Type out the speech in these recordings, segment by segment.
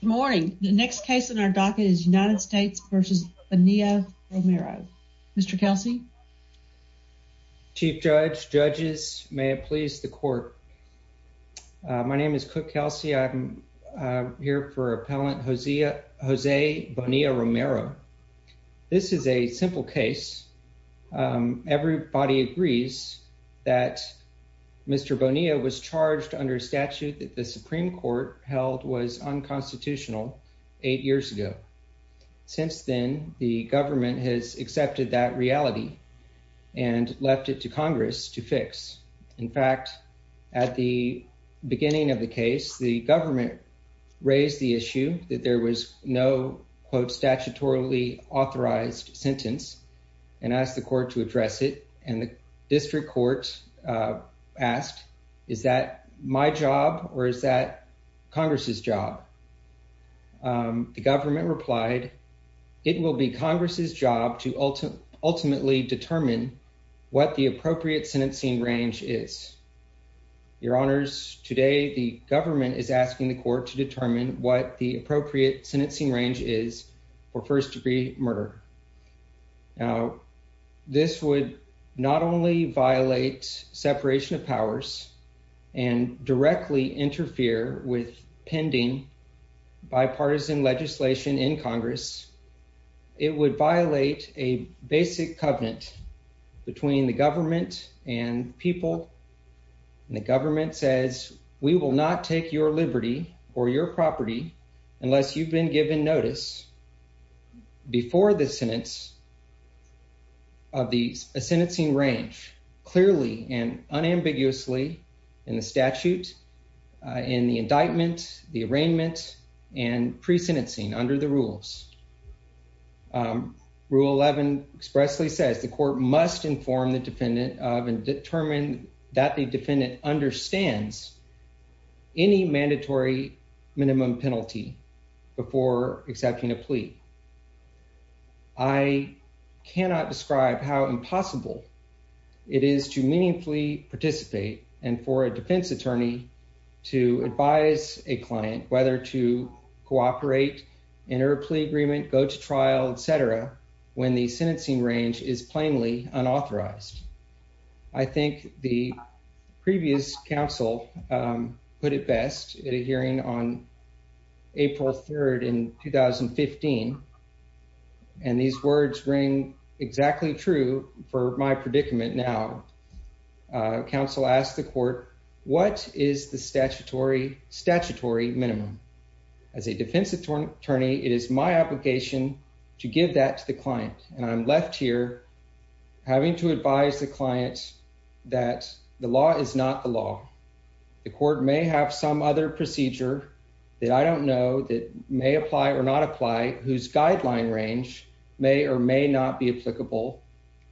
Good morning. The next case in our docket is United States v. Bonilla-Romero. Mr. Kelsey. Chief Judge, Judges, may it please the Court. My name is Cook Kelsey. I'm here for Appellant Jose Bonilla-Romero. This is a simple case. Everybody agrees that Mr. Bonilla-Romero was charged under a statute that the Supreme Court held was unconstitutional eight years ago. Since then, the government has accepted that reality and left it to Congress to fix. In fact, at the beginning of the case, the government raised the issue that there was no, quote, is that my job or is that Congress's job? The government replied, it will be Congress's job to ultimately determine what the appropriate sentencing range is. Your Honors, today the government is asking the Court to determine what the appropriate sentencing range is for first degree murder. Now, this would not only violate separation of powers and directly interfere with pending bipartisan legislation in Congress, it would violate a basic covenant between the government and people. The government says we will not take your liberty or your property unless you've been given notice before the sentence of the sentencing range clearly and unambiguously in the statute, in the indictment, the arraignment and presentencing under the rules. Rule 11 expressly says the court must inform the defendant of and determine that the defendant understands any mandatory minimum penalty before accepting a plea. I cannot describe how impossible it is to meaningfully participate and for a defense attorney to advise a client whether to cooperate, enter a plea agreement, go to trial, et cetera, when the sentencing range is plainly unauthorized. I think the previous counsel put it best at a hearing on April 3rd in 2015, and these words ring exactly true for my predicament now. Counsel asked the court, what is the statutory minimum? As a defense attorney, it is my obligation to give that to the client, and I'm left here having to advise the client that the law is not the law. The court may have some other procedure that I don't know that may apply or not apply whose guideline range may or may not be applicable,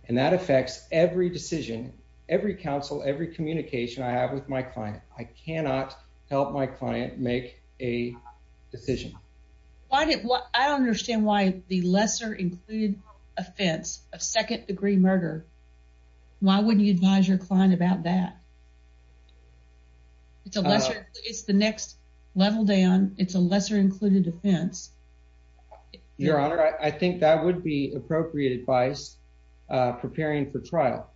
and that affects every decision, every counsel, every communication I have with my client. I cannot help my client make a decision. I don't understand why the lesser included offense of second degree murder, why wouldn't you advise your client about that? It's the next level down. It's a lesser included offense. Your Honor, I think that would be appropriate advice preparing for trial.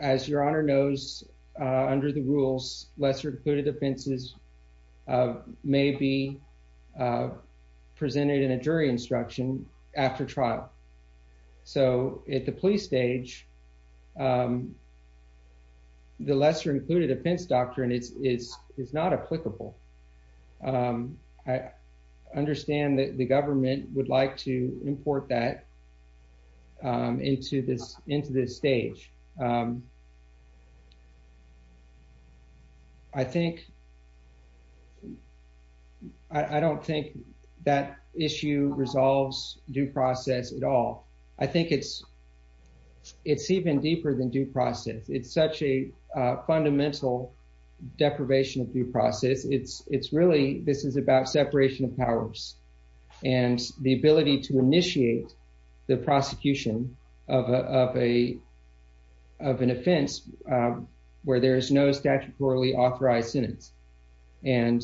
As Your Honor knows, under the rules, lesser included offenses may be presented in a jury instruction after trial. So at the plea stage, the lesser included offense doctrine is not applicable. I understand that the government would like to import that into this stage. I don't think that issue resolves due process at all. I think it's even deeper than due process. It's such a fundamental deprivation of due process. This is about separation of powers and the ability to initiate the prosecution of an offense where there is no statutorily authorized sentence. And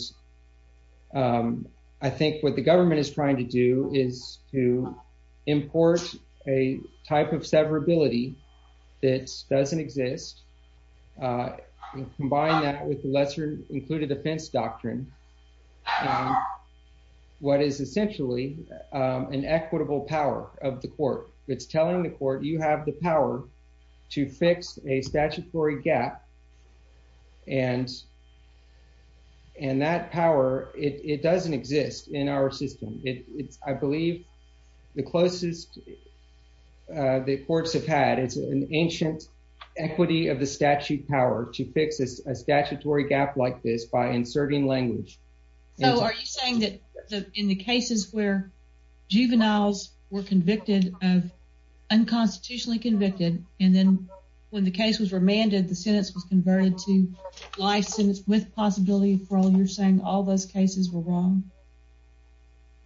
I think what the government is trying to do is to import a type of severability that doesn't exist. Combine that with the lesser included offense doctrine, what is essentially an equitable power of the court. It's telling the court you have the power to fix a statutory gap and that power, it doesn't exist in our system. I believe the closest the courts have had is an ancient equity of the statute power to fix a statutory gap like this by inserting language. So are you saying that in the cases where juveniles were convicted of unconstitutionally convicted and then when the case was remanded, the sentence was converted to life sentence with possibility of parole, you're saying all those cases were wrong?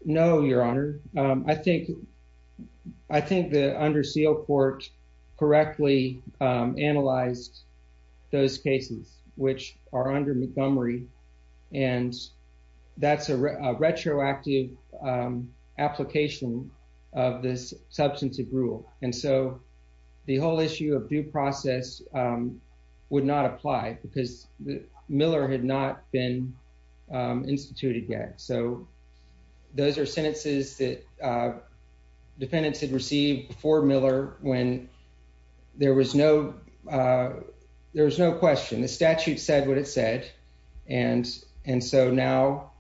No, Your Honor. I think the under seal court correctly analyzed those cases which are under Montgomery and that's a retroactive application of this substantive rule. And so the whole issue of due process would not apply because Miller had not been instituted yet. So those are sentences that defendants had received before Miller when there was no question. The statute said what it said and so now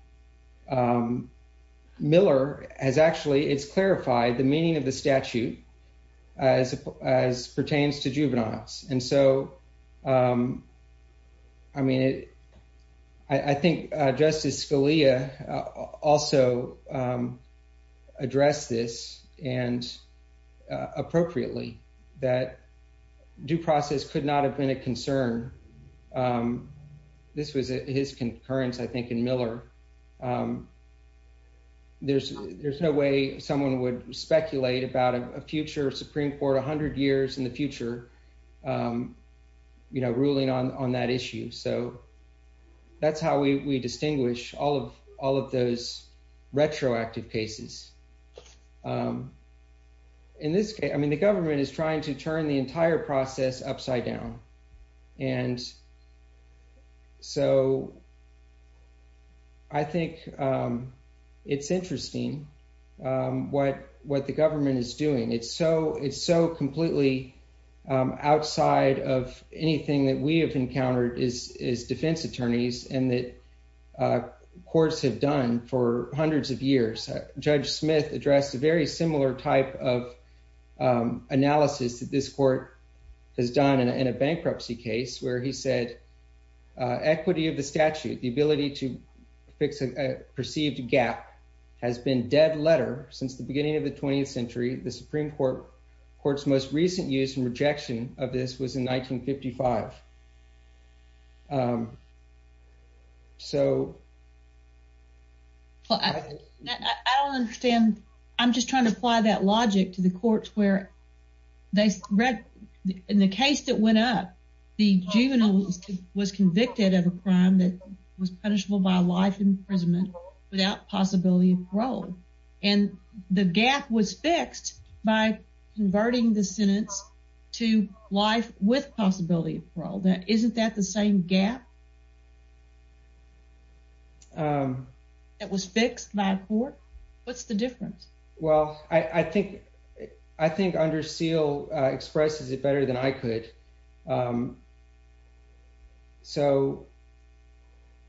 Miller has actually, it's clarified the meaning of the statute as pertains to juveniles. And so, I mean, I think Justice Scalia also addressed this and appropriately that due process could not have been a concern. This was his concurrence, I think, in Miller. There's no way someone would speculate about a future Supreme Court, 100 years in the future, you know, ruling on that issue. So that's how we distinguish all of those retroactive cases. In this case, I mean, the government is trying to turn the entire process upside down. And so I think it's interesting what the government is doing. It's so completely outside of anything that we have encountered as defense attorneys and that courts have done for hundreds of years. Judge Smith addressed a very similar type of analysis that this court has done in a bankruptcy case where he said equity of the statute, the ability to fix a perceived gap, has been dead letter since the beginning of the 20th century. The Supreme Court's most recent use and rejection of this was in 1955. I don't understand. I'm just trying to apply that logic to the courts where in the case that went up, the juvenile was convicted of a crime that was punishable by life imprisonment without possibility of parole. And the gap was fixed by converting the sentence to life with possibility of parole. Isn't that the same gap that was fixed by a court? What's the difference? Well, I think Under Seal expresses it better than I could. So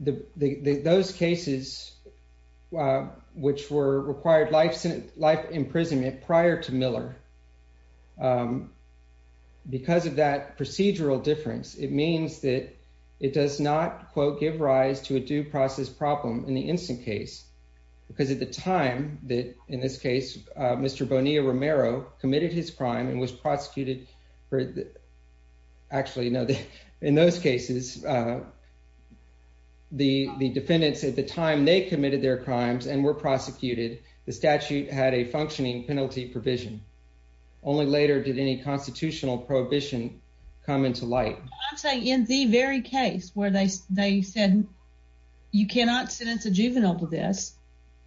those cases which required life imprisonment prior to Miller, because of that procedural difference, it means that it does not give rise to a due process problem in the instant case. Because at the time that, in this case, Mr. Bonilla-Romero committed his crime and was prosecuted for, actually, in those cases, the defendants at the time they committed their crimes and were prosecuted, the statute had a functioning penalty provision. Only later did any constitutional prohibition come into light. I'm saying in the very case where they said, you cannot sentence a juvenile to this,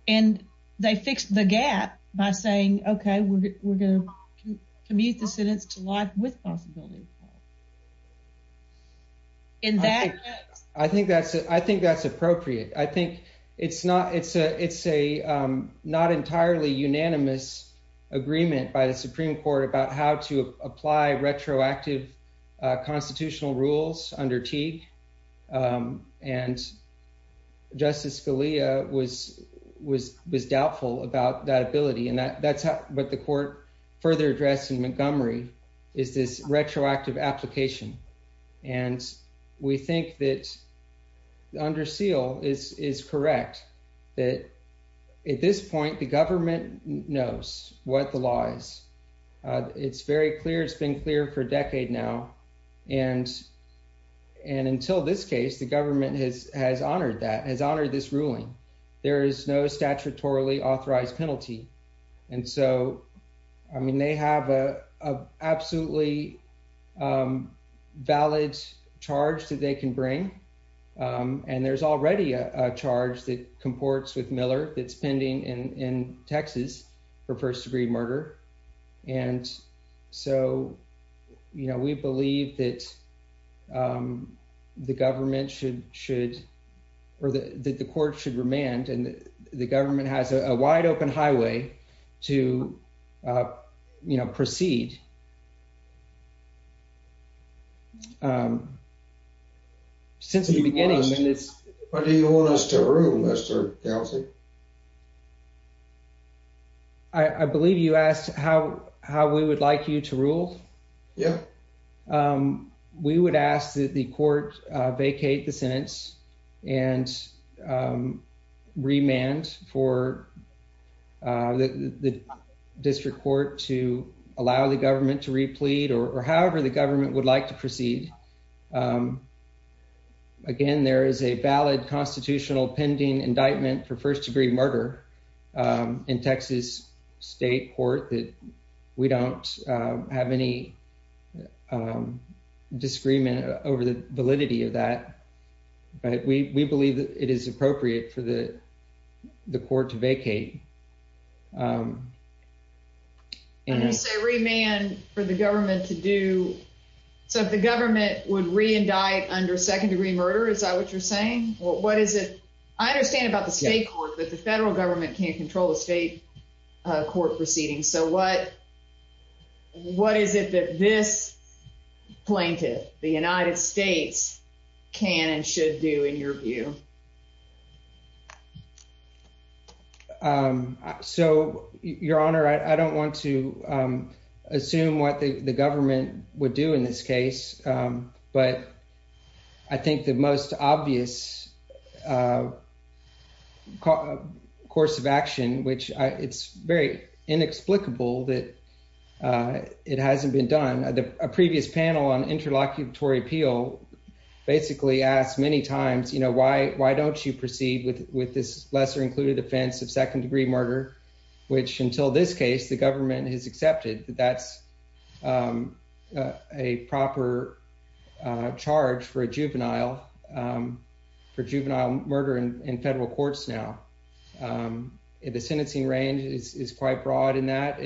and they fixed the gap by saying, OK, we're going to commute the sentence to life with possibility of parole. I think that's appropriate. I think it's a not entirely unanimous agreement by the Supreme Court about how to apply retroactive constitutional rules under Teague. And Justice Scalia was doubtful about that ability. And that's what the court further addressed in Montgomery, is this retroactive application. And we think that under seal is correct, that at this point, the government knows what the law is. It's very clear. It's been clear for a decade now. And until this case, the government has honored that, has honored this ruling. There is no statutorily authorized penalty. And so, I mean, they have an absolutely valid charge that they can bring. And there's already a charge that comports with Miller that's pending in Texas for first degree murder. And so, you know, we believe that the government should, or that the court should remand and the government has a wide open highway to proceed. But do you want us to rule, Mr. Kelsey? I believe you asked how how we would like you to rule. Yeah. We would ask that the court vacate the sentence and remand for the district court to allow the government to replete or however the government would like to proceed. Again, there is a valid constitutional pending indictment for first degree murder in Texas state court that we don't have any disagreement over the validity of that. But we believe that it is appropriate for the court to vacate. And you say remand for the government to do. So if the government would reindict under second degree murder, is that what you're saying? What is it? I understand about the state court that the federal government can't control the state court proceeding. So what? What is it that this plaintiff, the United States, can and should do in your view? So, Your Honor, I don't want to assume what the government would do in this case, but I think the most obvious course of action, which it's very inexplicable that it hasn't been done. A previous panel on interlocutory appeal basically asked many times, you know, why, why don't you proceed with with this lesser included offense of second degree murder, which until this case, the government has accepted that that's a proper charge for a juvenile for juvenile murder in federal courts. Now, the sentencing range is quite broad in that.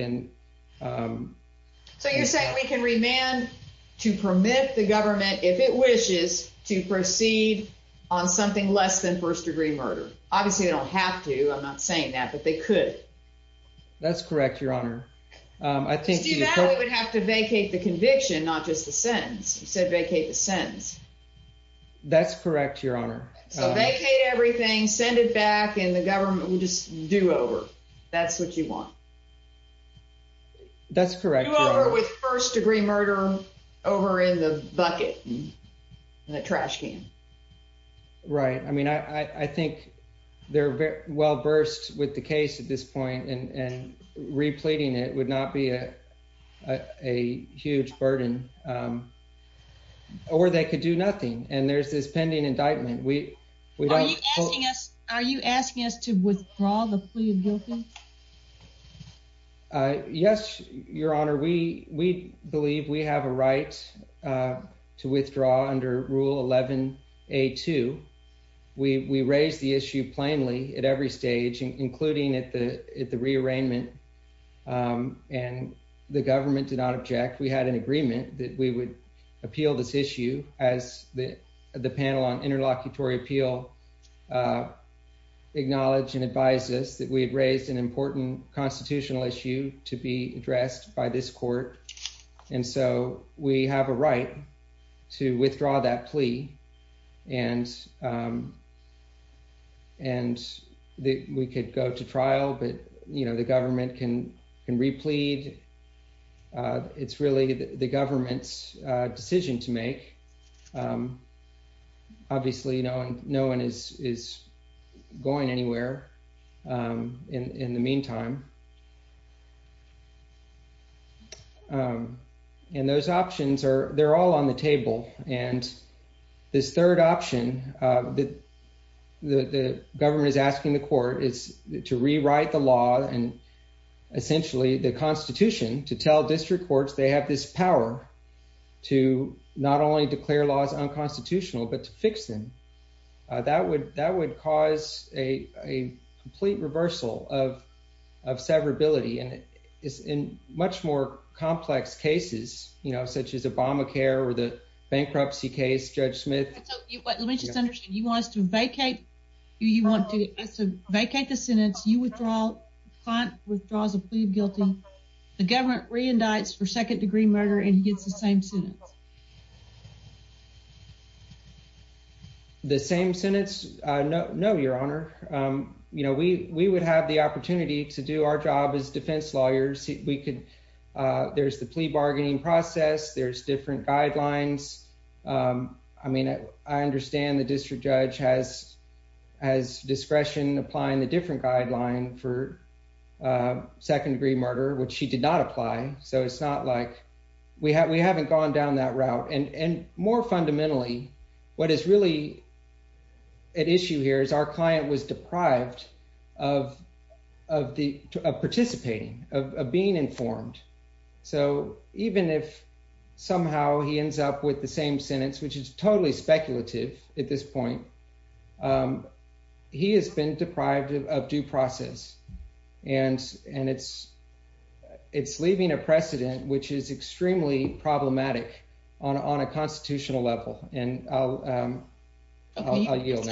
So you're saying we can remand to permit the government, if it wishes to proceed on something less than first degree murder. Obviously, they don't have to. I'm not saying that, but they could. That's correct, Your Honor. I think you would have to vacate the conviction, not just the sentence. You said vacate the sentence. That's correct, Your Honor. Vacate everything, send it back, and the government will just do over. That's what you want. That's correct, Your Honor. Do over with first degree murder over in the bucket, in a trash can. Right. I mean, I think they're well versed with the case at this point and repleting it would not be a huge burden. Or they could do nothing. And there's this pending indictment. Are you asking us to withdraw the plea of guilty? Yes, Your Honor. We believe we have a right to withdraw under Rule 11A2. We raise the issue plainly at every stage, including at the at the rearrangement. And the government did not object. We had an agreement that we would appeal this issue as the panel on interlocutory appeal acknowledged and advised us that we had raised an important constitutional issue to be addressed by this court. And so we have a right to withdraw that plea and and that we could go to trial. But, you know, the government can can replete. It's really the government's decision to make. Obviously, you know, no one is is going anywhere in the meantime. And those options are they're all on the table. And this third option that the government is asking the court is to rewrite the law and essentially the Constitution to tell district courts they have this power to not only declare laws unconstitutional, but to fix them. That would that would cause a complete reversal of severability. And it is in much more complex cases, you know, such as Obamacare or the bankruptcy case, Judge Smith. Let me just understand. You want us to vacate? You want to vacate the sentence? You withdraw? The client withdraws a plea of guilty. The government re-indicts for second degree murder and he gets the same sentence? The same sentence? No, no, Your Honor. You know, we we would have the opportunity to do our job as defense lawyers. There's the plea bargaining process. There's different guidelines. I mean, I understand the district judge has discretion applying the different guideline for second degree murder, which she did not apply. So it's not like we have we haven't gone down that route. And more fundamentally, what is really at issue here is our client was deprived of participating, of being informed. So even if somehow he ends up with the same sentence, which is totally speculative at this point, he has been deprived of due process. And it's leaving a precedent, which is extremely problematic on a constitutional level. And I'll yield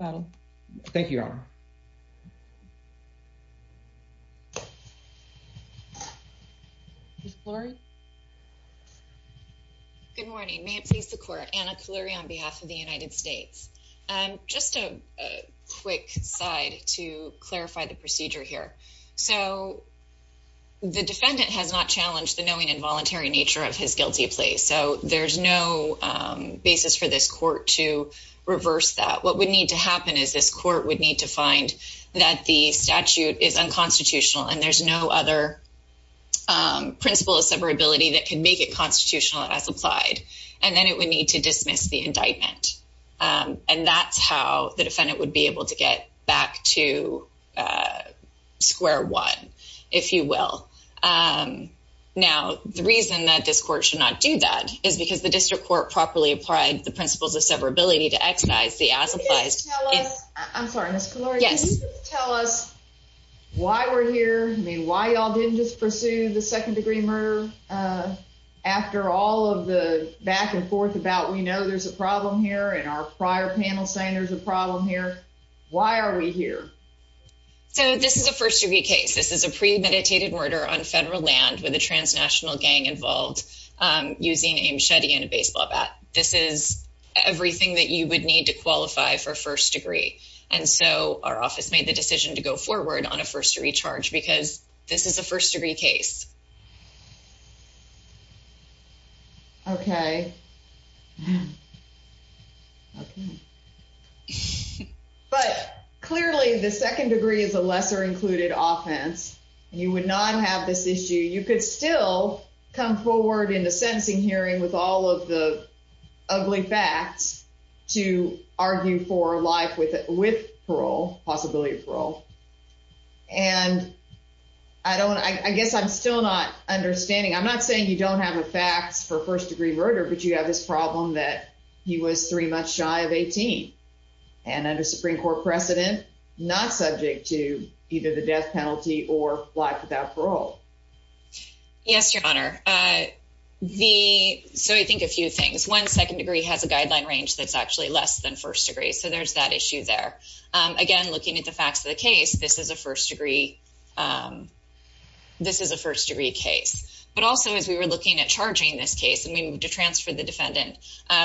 now. Good morning. May it please the Court. Anna Kloery on behalf of the United States. Just a quick side to clarify the procedure here. So the defendant has not challenged the knowing involuntary nature of his guilty plea. So there's no basis for this court to reverse that. What would need to happen is this court would need to find that the statute is unconstitutional and there's no other principle of severability that can make it constitutional as applied. And then it would need to dismiss the indictment. And that's how the defendant would be able to get back to square one, if you will. Now, the reason that this court should not do that is because the district court properly applied the principles of severability to exercise the as applies. I'm sorry. Yes. Tell us why we're here. I mean, why y'all didn't just pursue the second degree murder after all of the back and forth about we know there's a problem here. And our prior panel saying there's a problem here. Why are we here? So this is a first degree case. This is a premeditated murder on federal land with a transnational gang involved using a machete and a baseball bat. This is everything that you would need to qualify for first degree. And so our office made the decision to go forward on a first degree charge because this is a first degree case. OK. But clearly the second degree is a lesser included offense. You would not have this issue. You could still come forward in the sentencing hearing with all of the ugly facts to argue for life with it with parole, possibility of parole. And I don't I guess I'm still not understanding. I'm not saying you don't have the facts for first degree murder, but you have this problem that he was three months shy of 18 and under Supreme Court precedent, not subject to either the death penalty or life without parole. Yes, your honor. The. So I think a few things. One second degree has a guideline range that's actually less than first degree. So there's that issue there. Again, looking at the facts of the case, this is a first degree. This is a first degree case. But also, as we were looking at charging this case and we moved to transfer the defendant,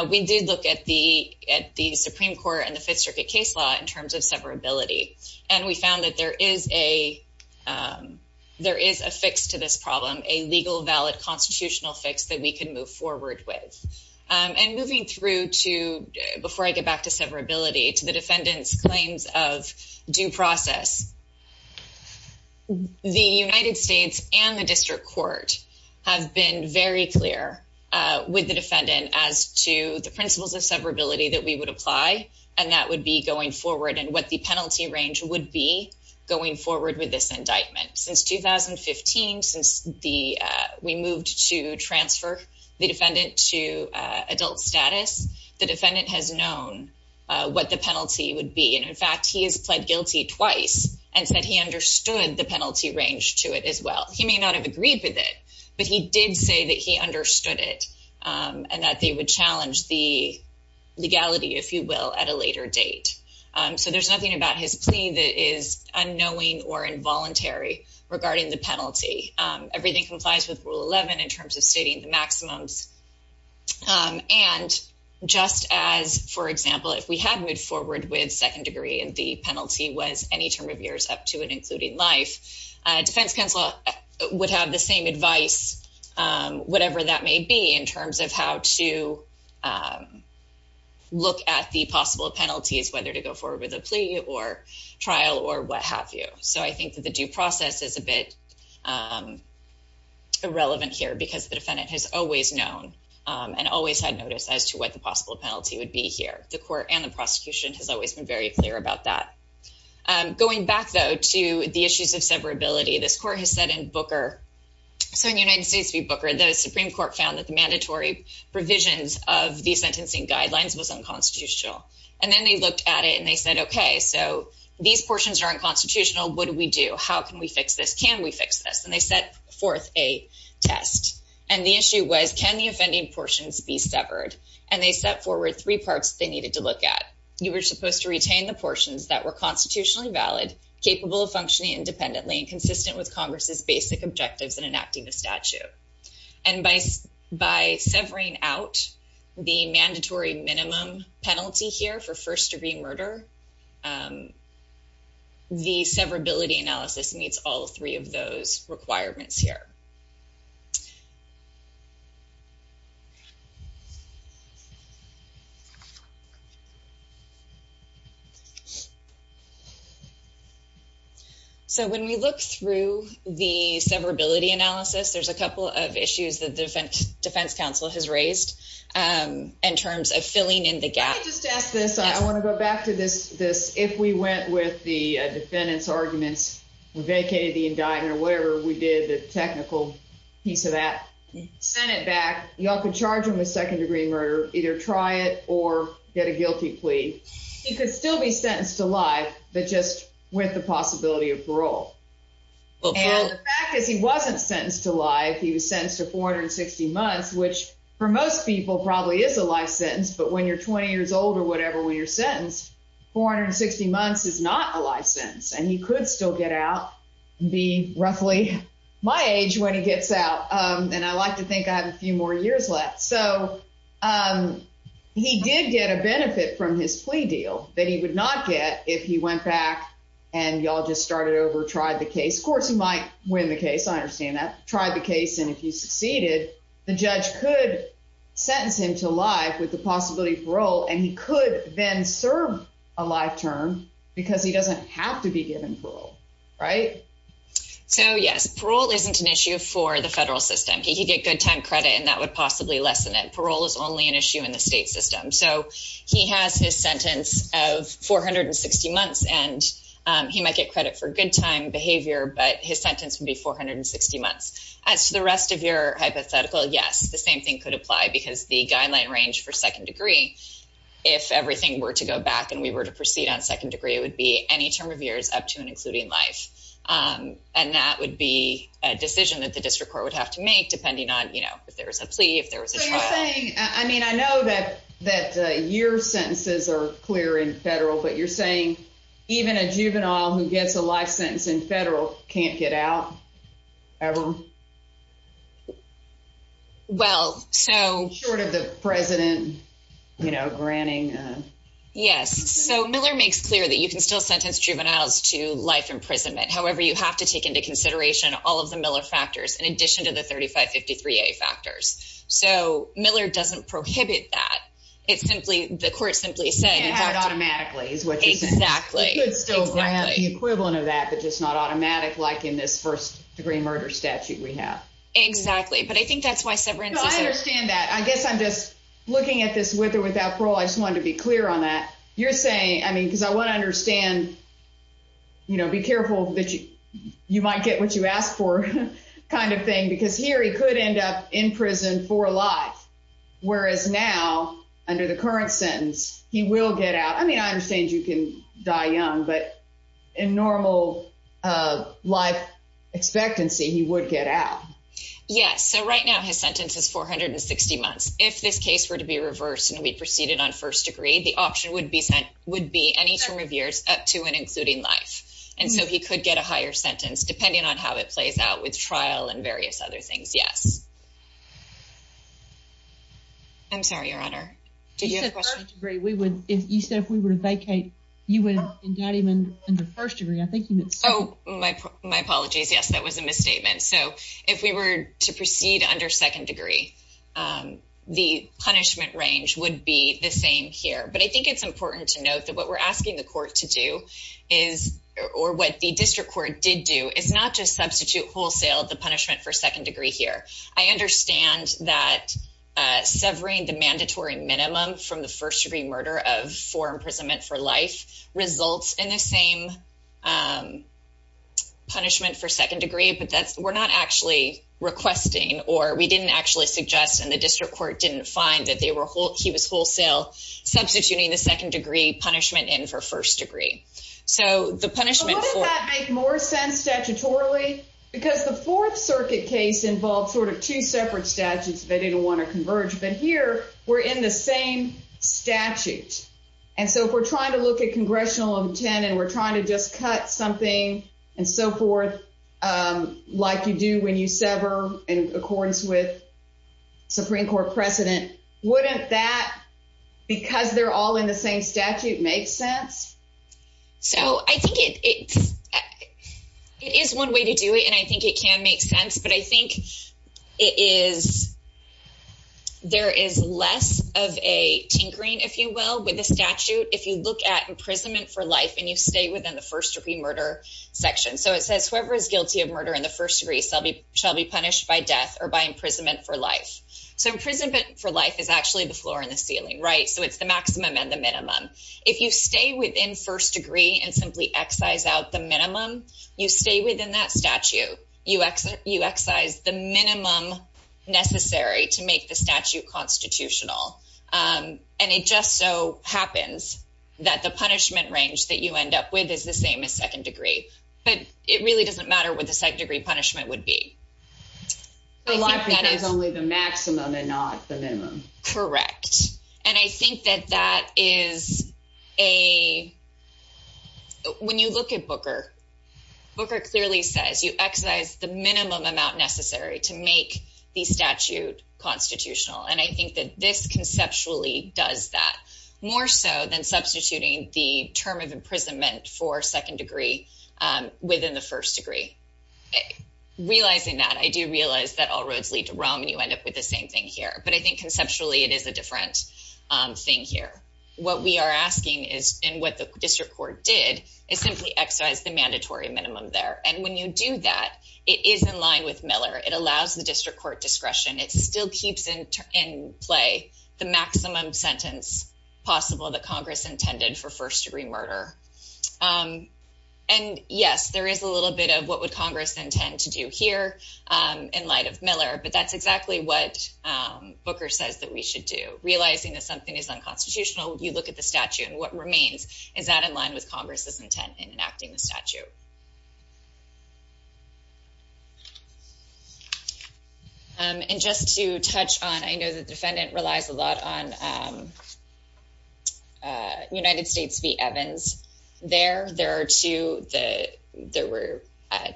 we did look at the at the Supreme Court and the Fifth Circuit case law in terms of severability. And we found that there is a there is a fix to this problem, a legal, valid constitutional fix that we can move forward with. And moving through to before I get back to severability to the defendant's claims of due process. The United States and the district court have been very clear with the defendant as to the principles of severability that we would apply, and that would be going forward and what the penalty range would be going forward with this indictment. Since 2015, since the we moved to transfer the defendant to adult status, the defendant has known what the penalty would be. And in fact, he has pled guilty twice and said he understood the penalty range to it as well. He may not have agreed with it, but he did say that he understood it and that they would challenge the legality, if you will, at a later date. So there's nothing about his plea that is unknowing or involuntary regarding the penalty. Everything complies with Rule 11 in terms of stating the maximums. And just as, for example, if we had moved forward with second degree and the penalty was any term of years up to and including life, defense counsel would have the same advice, whatever that may be in terms of how to look at the possible penalties, whether to go forward with a plea or trial or what have you. So I think that the due process is a bit irrelevant here because the defendant has always known and always had notice as to what the possible penalty would be here. The court and the prosecution has always been very clear about that. Going back, though, to the issues of severability, this court has said in Booker. So in United States v. Booker, the Supreme Court found that the mandatory provisions of the sentencing guidelines was unconstitutional. And then they looked at it and they said, OK, so these portions are unconstitutional. What do we do? How can we fix this? Can we fix this? And they set forth a test. And the issue was, can the offending portions be severed? And they set forward three parts they needed to look at. You were supposed to retain the portions that were constitutionally valid, capable of functioning independently and consistent with Congress's basic objectives in enacting the statute. And by severing out the mandatory minimum penalty here for first-degree murder, the severability analysis meets all three of those requirements here. So when we look through the severability analysis, there's a couple of issues that the defense counsel has raised in terms of filling in the gap. I just ask this. I want to go back to this. If we went with the defendant's arguments, vacated the indictment or whatever we did, the technical piece of that, send it back. Y'all could charge him with second-degree murder, either try it or get a guilty plea. He could still be sentenced to life, but just with the possibility of parole. And the fact is he wasn't sentenced to life. He was sentenced to 460 months, which for most people probably is a life sentence. But when you're 20 years old or whatever, when you're sentenced, 460 months is not a life sentence. And he could still get out and be roughly my age when he gets out. And I like to think I have a few more years left. So he did get a benefit from his plea deal that he would not get if he went back and y'all just started over, tried the case. Of course, he might win the case. I understand that. Tried the case. And if you succeeded, the judge could sentence him to life with the possibility of parole, and he could then serve a life term because he doesn't have to be given parole. Right? So, yes, parole isn't an issue for the federal system. He could get good time credit, and that would possibly lessen it. Parole is only an issue in the state system. So he has his sentence of 460 months, and he might get credit for good time behavior, but his sentence would be 460 months. As to the rest of your hypothetical, yes, the same thing could apply because the guideline range for second degree, if everything were to go back and we were to proceed on second degree, it would be any term of years up to and including life. And that would be a decision that the district court would have to make, depending on if there was a plea, if there was a trial. I mean, I know that year sentences are clear in federal, but you're saying even a juvenile who gets a life sentence in federal can't get out? Ever? Well, so. Short of the president, you know, granting. Yes, so Miller makes clear that you can still sentence juveniles to life imprisonment. However, you have to take into consideration all of the Miller factors in addition to the 3553A factors. So Miller doesn't prohibit that. It's simply the court simply saying that automatically is what exactly. It's still the equivalent of that, but just not automatic, like in this first degree murder statute. We have exactly, but I think that's why severance. I understand that. I guess I'm just looking at this with or without parole. I just wanted to be clear on that. You're saying, I mean, because I want to understand. You know, be careful that you might get what you asked for kind of thing, because here he could end up in prison for life. Whereas now, under the current sentence, he will get out. I mean, I understand you can die young, but in normal life expectancy, he would get out. Yes. So right now his sentence is 460 months. If this case were to be reversed and we proceeded on first degree, the option would be sent would be any term of years up to and including life. And so he could get a higher sentence, depending on how it plays out with trial and various other things. Yes. I'm sorry, Your Honor. Did you have a question? You said if we were to vacate, you would indict him under first degree. My apologies. Yes, that was a misstatement. So if we were to proceed under second degree, the punishment range would be the same here. But I think it's important to note that what we're asking the court to do is or what the district court did do is not just substitute wholesale the punishment for second degree here. I understand that severing the mandatory minimum from the first degree murder of four imprisonment for life results in the same punishment for second degree. But that's we're not actually requesting or we didn't actually suggest. And the district court didn't find that they were he was wholesale substituting the second degree punishment in for first degree. So the punishment make more sense statutorily because the Fourth Circuit case involved sort of two separate statutes. They didn't want to converge. But here we're in the same statute. And so if we're trying to look at congressional intent and we're trying to just cut something and so forth, like you do when you sever in accordance with Supreme Court precedent. Wouldn't that because they're all in the same statute make sense? So I think it is one way to do it. And I think it can make sense. But I think it is there is less of a tinkering, if you will, with the statute. If you look at imprisonment for life and you stay within the first degree murder section. So it says whoever is guilty of murder in the first degree shall be punished by death or by imprisonment for life. So imprisonment for life is actually the floor and the ceiling. Right. So it's the maximum and the minimum. If you stay within first degree and simply excise out the minimum, you stay within that statute. You exit. You excise the minimum necessary to make the statute constitutional. And it just so happens that the punishment range that you end up with is the same as second degree. But it really doesn't matter what the second degree punishment would be. Life is only the maximum and not the minimum. Correct. And I think that that is a. When you look at Booker, Booker clearly says you excise the minimum amount necessary to make the statute constitutional. And I think that this conceptually does that more so than substituting the term of imprisonment for second degree within the first degree. Realizing that I do realize that all roads lead to Rome and you end up with the same thing here. But I think conceptually it is a different thing here. What we are asking is and what the district court did is simply excise the mandatory minimum there. And when you do that, it is in line with Miller. It allows the district court discretion. It still keeps in play the maximum sentence possible that Congress intended for first degree murder. And yes, there is a little bit of what would Congress intend to do here in light of Miller. But that's exactly what Booker says that we should do. Realizing that something is unconstitutional, you look at the statute and what remains. Is that in line with Congress's intent in enacting the statute? And just to touch on, I know the defendant relies a lot on United States v. Evans. There, there were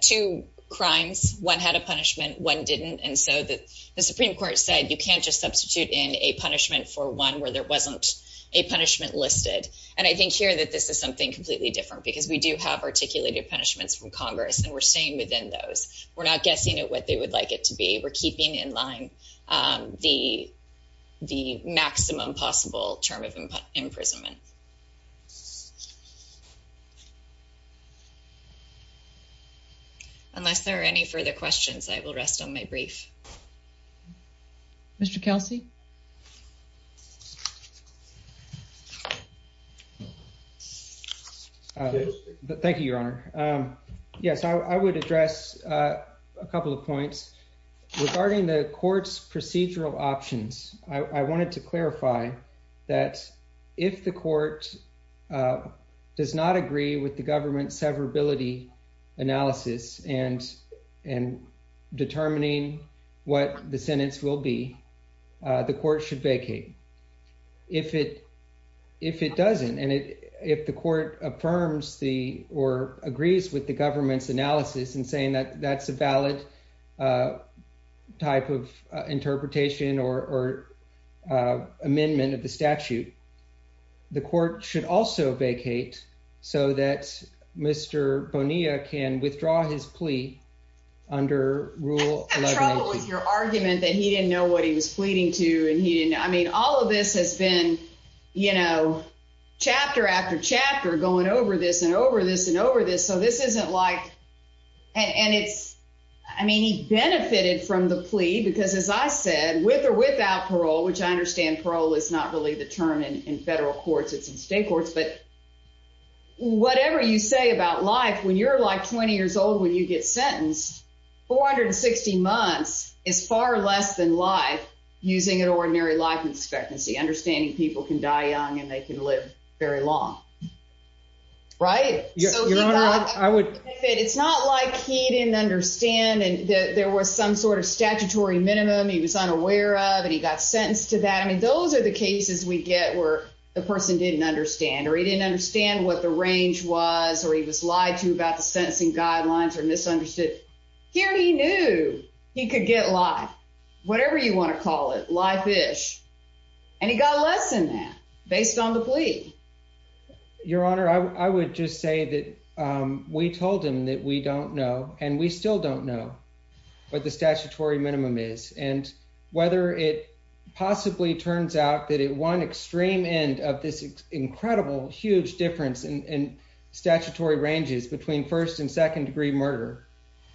two crimes. One had a punishment, one didn't. And so the Supreme Court said you can't just substitute in a punishment for one where there wasn't a punishment listed. And I think here that this is something completely different because we do have articulated punishments from Congress. And we're staying within those. We're not guessing at what they would like it to be. We're keeping in line the maximum possible term of imprisonment. Unless there are any further questions, I will rest on my brief. Mr. Kelsey? Thank you, Your Honor. Yes, I would address a couple of points. Regarding the court's procedural options, I wanted to clarify that if the court does not agree with the government's severability analysis and determining what the sentence will be, the court should vacate. If it doesn't, and if the court affirms or agrees with the government's analysis and saying that that's a valid type of interpretation or amendment of the statute, the court should also vacate so that Mr. Bonilla can withdraw his plea under Rule 1118. I agree with your argument that he didn't know what he was pleading to. I mean, all of this has been, you know, chapter after chapter going over this and over this and over this. So this isn't like – and it's – I mean, he benefited from the plea because, as I said, with or without parole, which I understand parole is not really the term in federal courts. It's in state courts. But whatever you say about life, when you're, like, 20 years old when you get sentenced, 460 months is far less than life using an ordinary life expectancy, understanding people can die young and they can live very long. Right? Your Honor, I would – It's not like he didn't understand and there was some sort of statutory minimum he was unaware of and he got sentenced to that. I mean, those are the cases we get where the person didn't understand or he didn't understand what the range was or he was lied to about the sentencing guidelines or misunderstood. Here he knew he could get life, whatever you want to call it, life-ish, and he got less than that based on the plea. Your Honor, I would just say that we told him that we don't know, and we still don't know what the statutory minimum is. And whether it possibly turns out that at one extreme end of this incredible, huge difference in statutory ranges between first and second degree murder,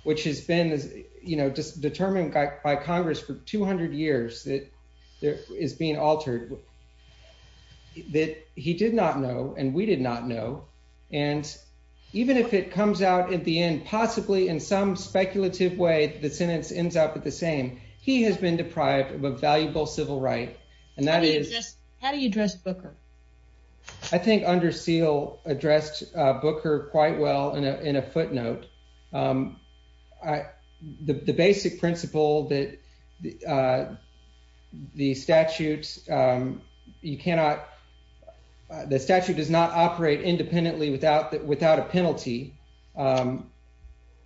which has been, you know, determined by Congress for 200 years that is being altered, that he did not know and we did not know. And even if it comes out at the end, possibly in some speculative way that the sentence ends up at the same, he has been deprived of a valuable civil right. And that is – How do you address Booker? I think Under Seal addressed Booker quite well in a footnote. The basic principle that the statute does not operate independently without a penalty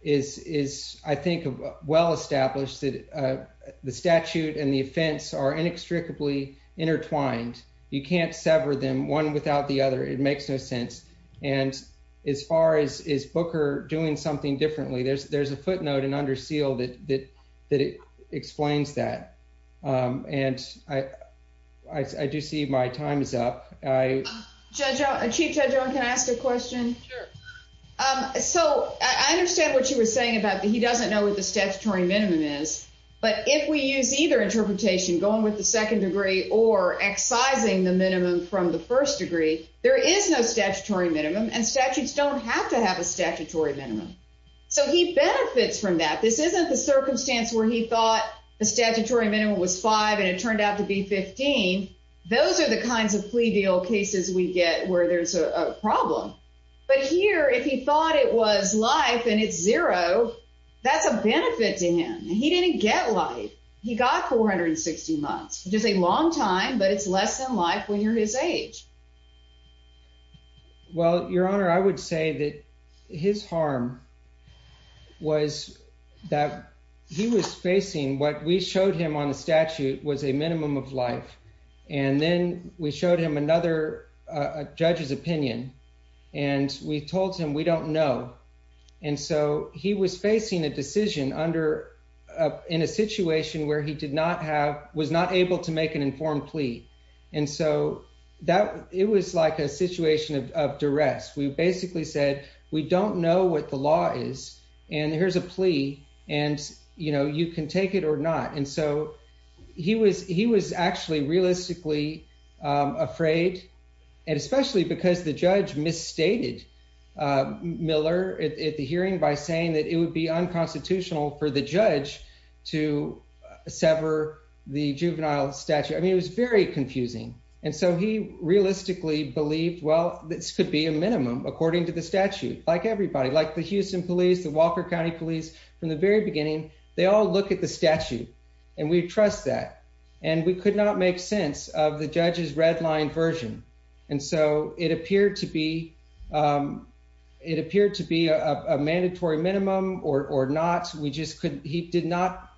is, I think, well established. The statute and the offense are inextricably intertwined. You can't sever them one without the other. It makes no sense. And as far as is Booker doing something differently, there's a footnote in Under Seal that explains that. And I do see my time is up. Chief Judge Owen, can I ask a question? Sure. So I understand what you were saying about he doesn't know what the statutory minimum is. But if we use either interpretation, going with the second degree or excising the minimum from the first degree, there is no statutory minimum and statutes don't have to have a statutory minimum. So he benefits from that. This isn't the circumstance where he thought the statutory minimum was five and it turned out to be 15. Those are the kinds of plea deal cases we get where there's a problem. But here, if he thought it was life and it's zero, that's a benefit to him. He didn't get life. He got 460 months, which is a long time, but it's less than life when you're his age. Well, Your Honor, I would say that his harm was that he was facing what we showed him on the statute was a minimum of life. And then we showed him another judge's opinion, and we told him we don't know. And so he was facing a decision in a situation where he was not able to make an informed plea. And so it was like a situation of duress. We basically said, we don't know what the law is, and here's a plea, and you can take it or not. And so he was actually realistically afraid, and especially because the judge misstated Miller at the hearing by saying that it would be unconstitutional for the judge to sever the juvenile statute. I mean, it was very confusing. And so he realistically believed, well, this could be a minimum, according to the statute. Like everybody, like the Houston police, the Walker County police, from the very beginning, they all look at the statute, and we trust that. And we could not make sense of the judge's redlined version. And so it appeared to be a mandatory minimum or not. He did not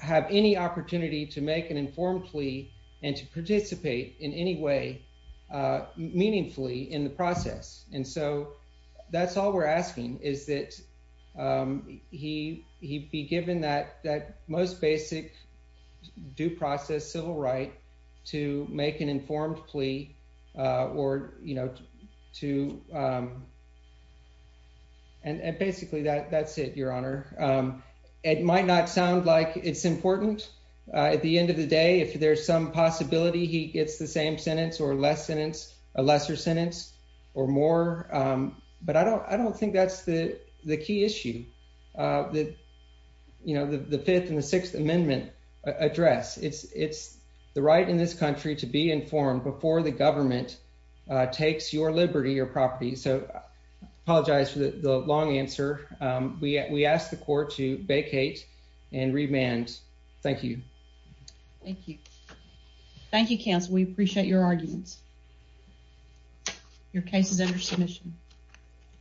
have any opportunity to make an informed plea and to participate in any way meaningfully in the process. And so that's all we're asking, is that he be given that most basic due process civil right to make an informed plea or, you know, to... And basically, that's it, Your Honor. It might not sound like it's important. At the end of the day, if there's some possibility he gets the same sentence or less sentence, a lesser sentence or more. But I don't think that's the key issue that, you know, the Fifth and the Sixth Amendment address. It's the right in this country to be informed before the government takes your liberty or property. So I apologize for the long answer. We ask the court to vacate and remand. Thank you. Thank you. Thank you, counsel. We appreciate your arguments. Your case is under submission.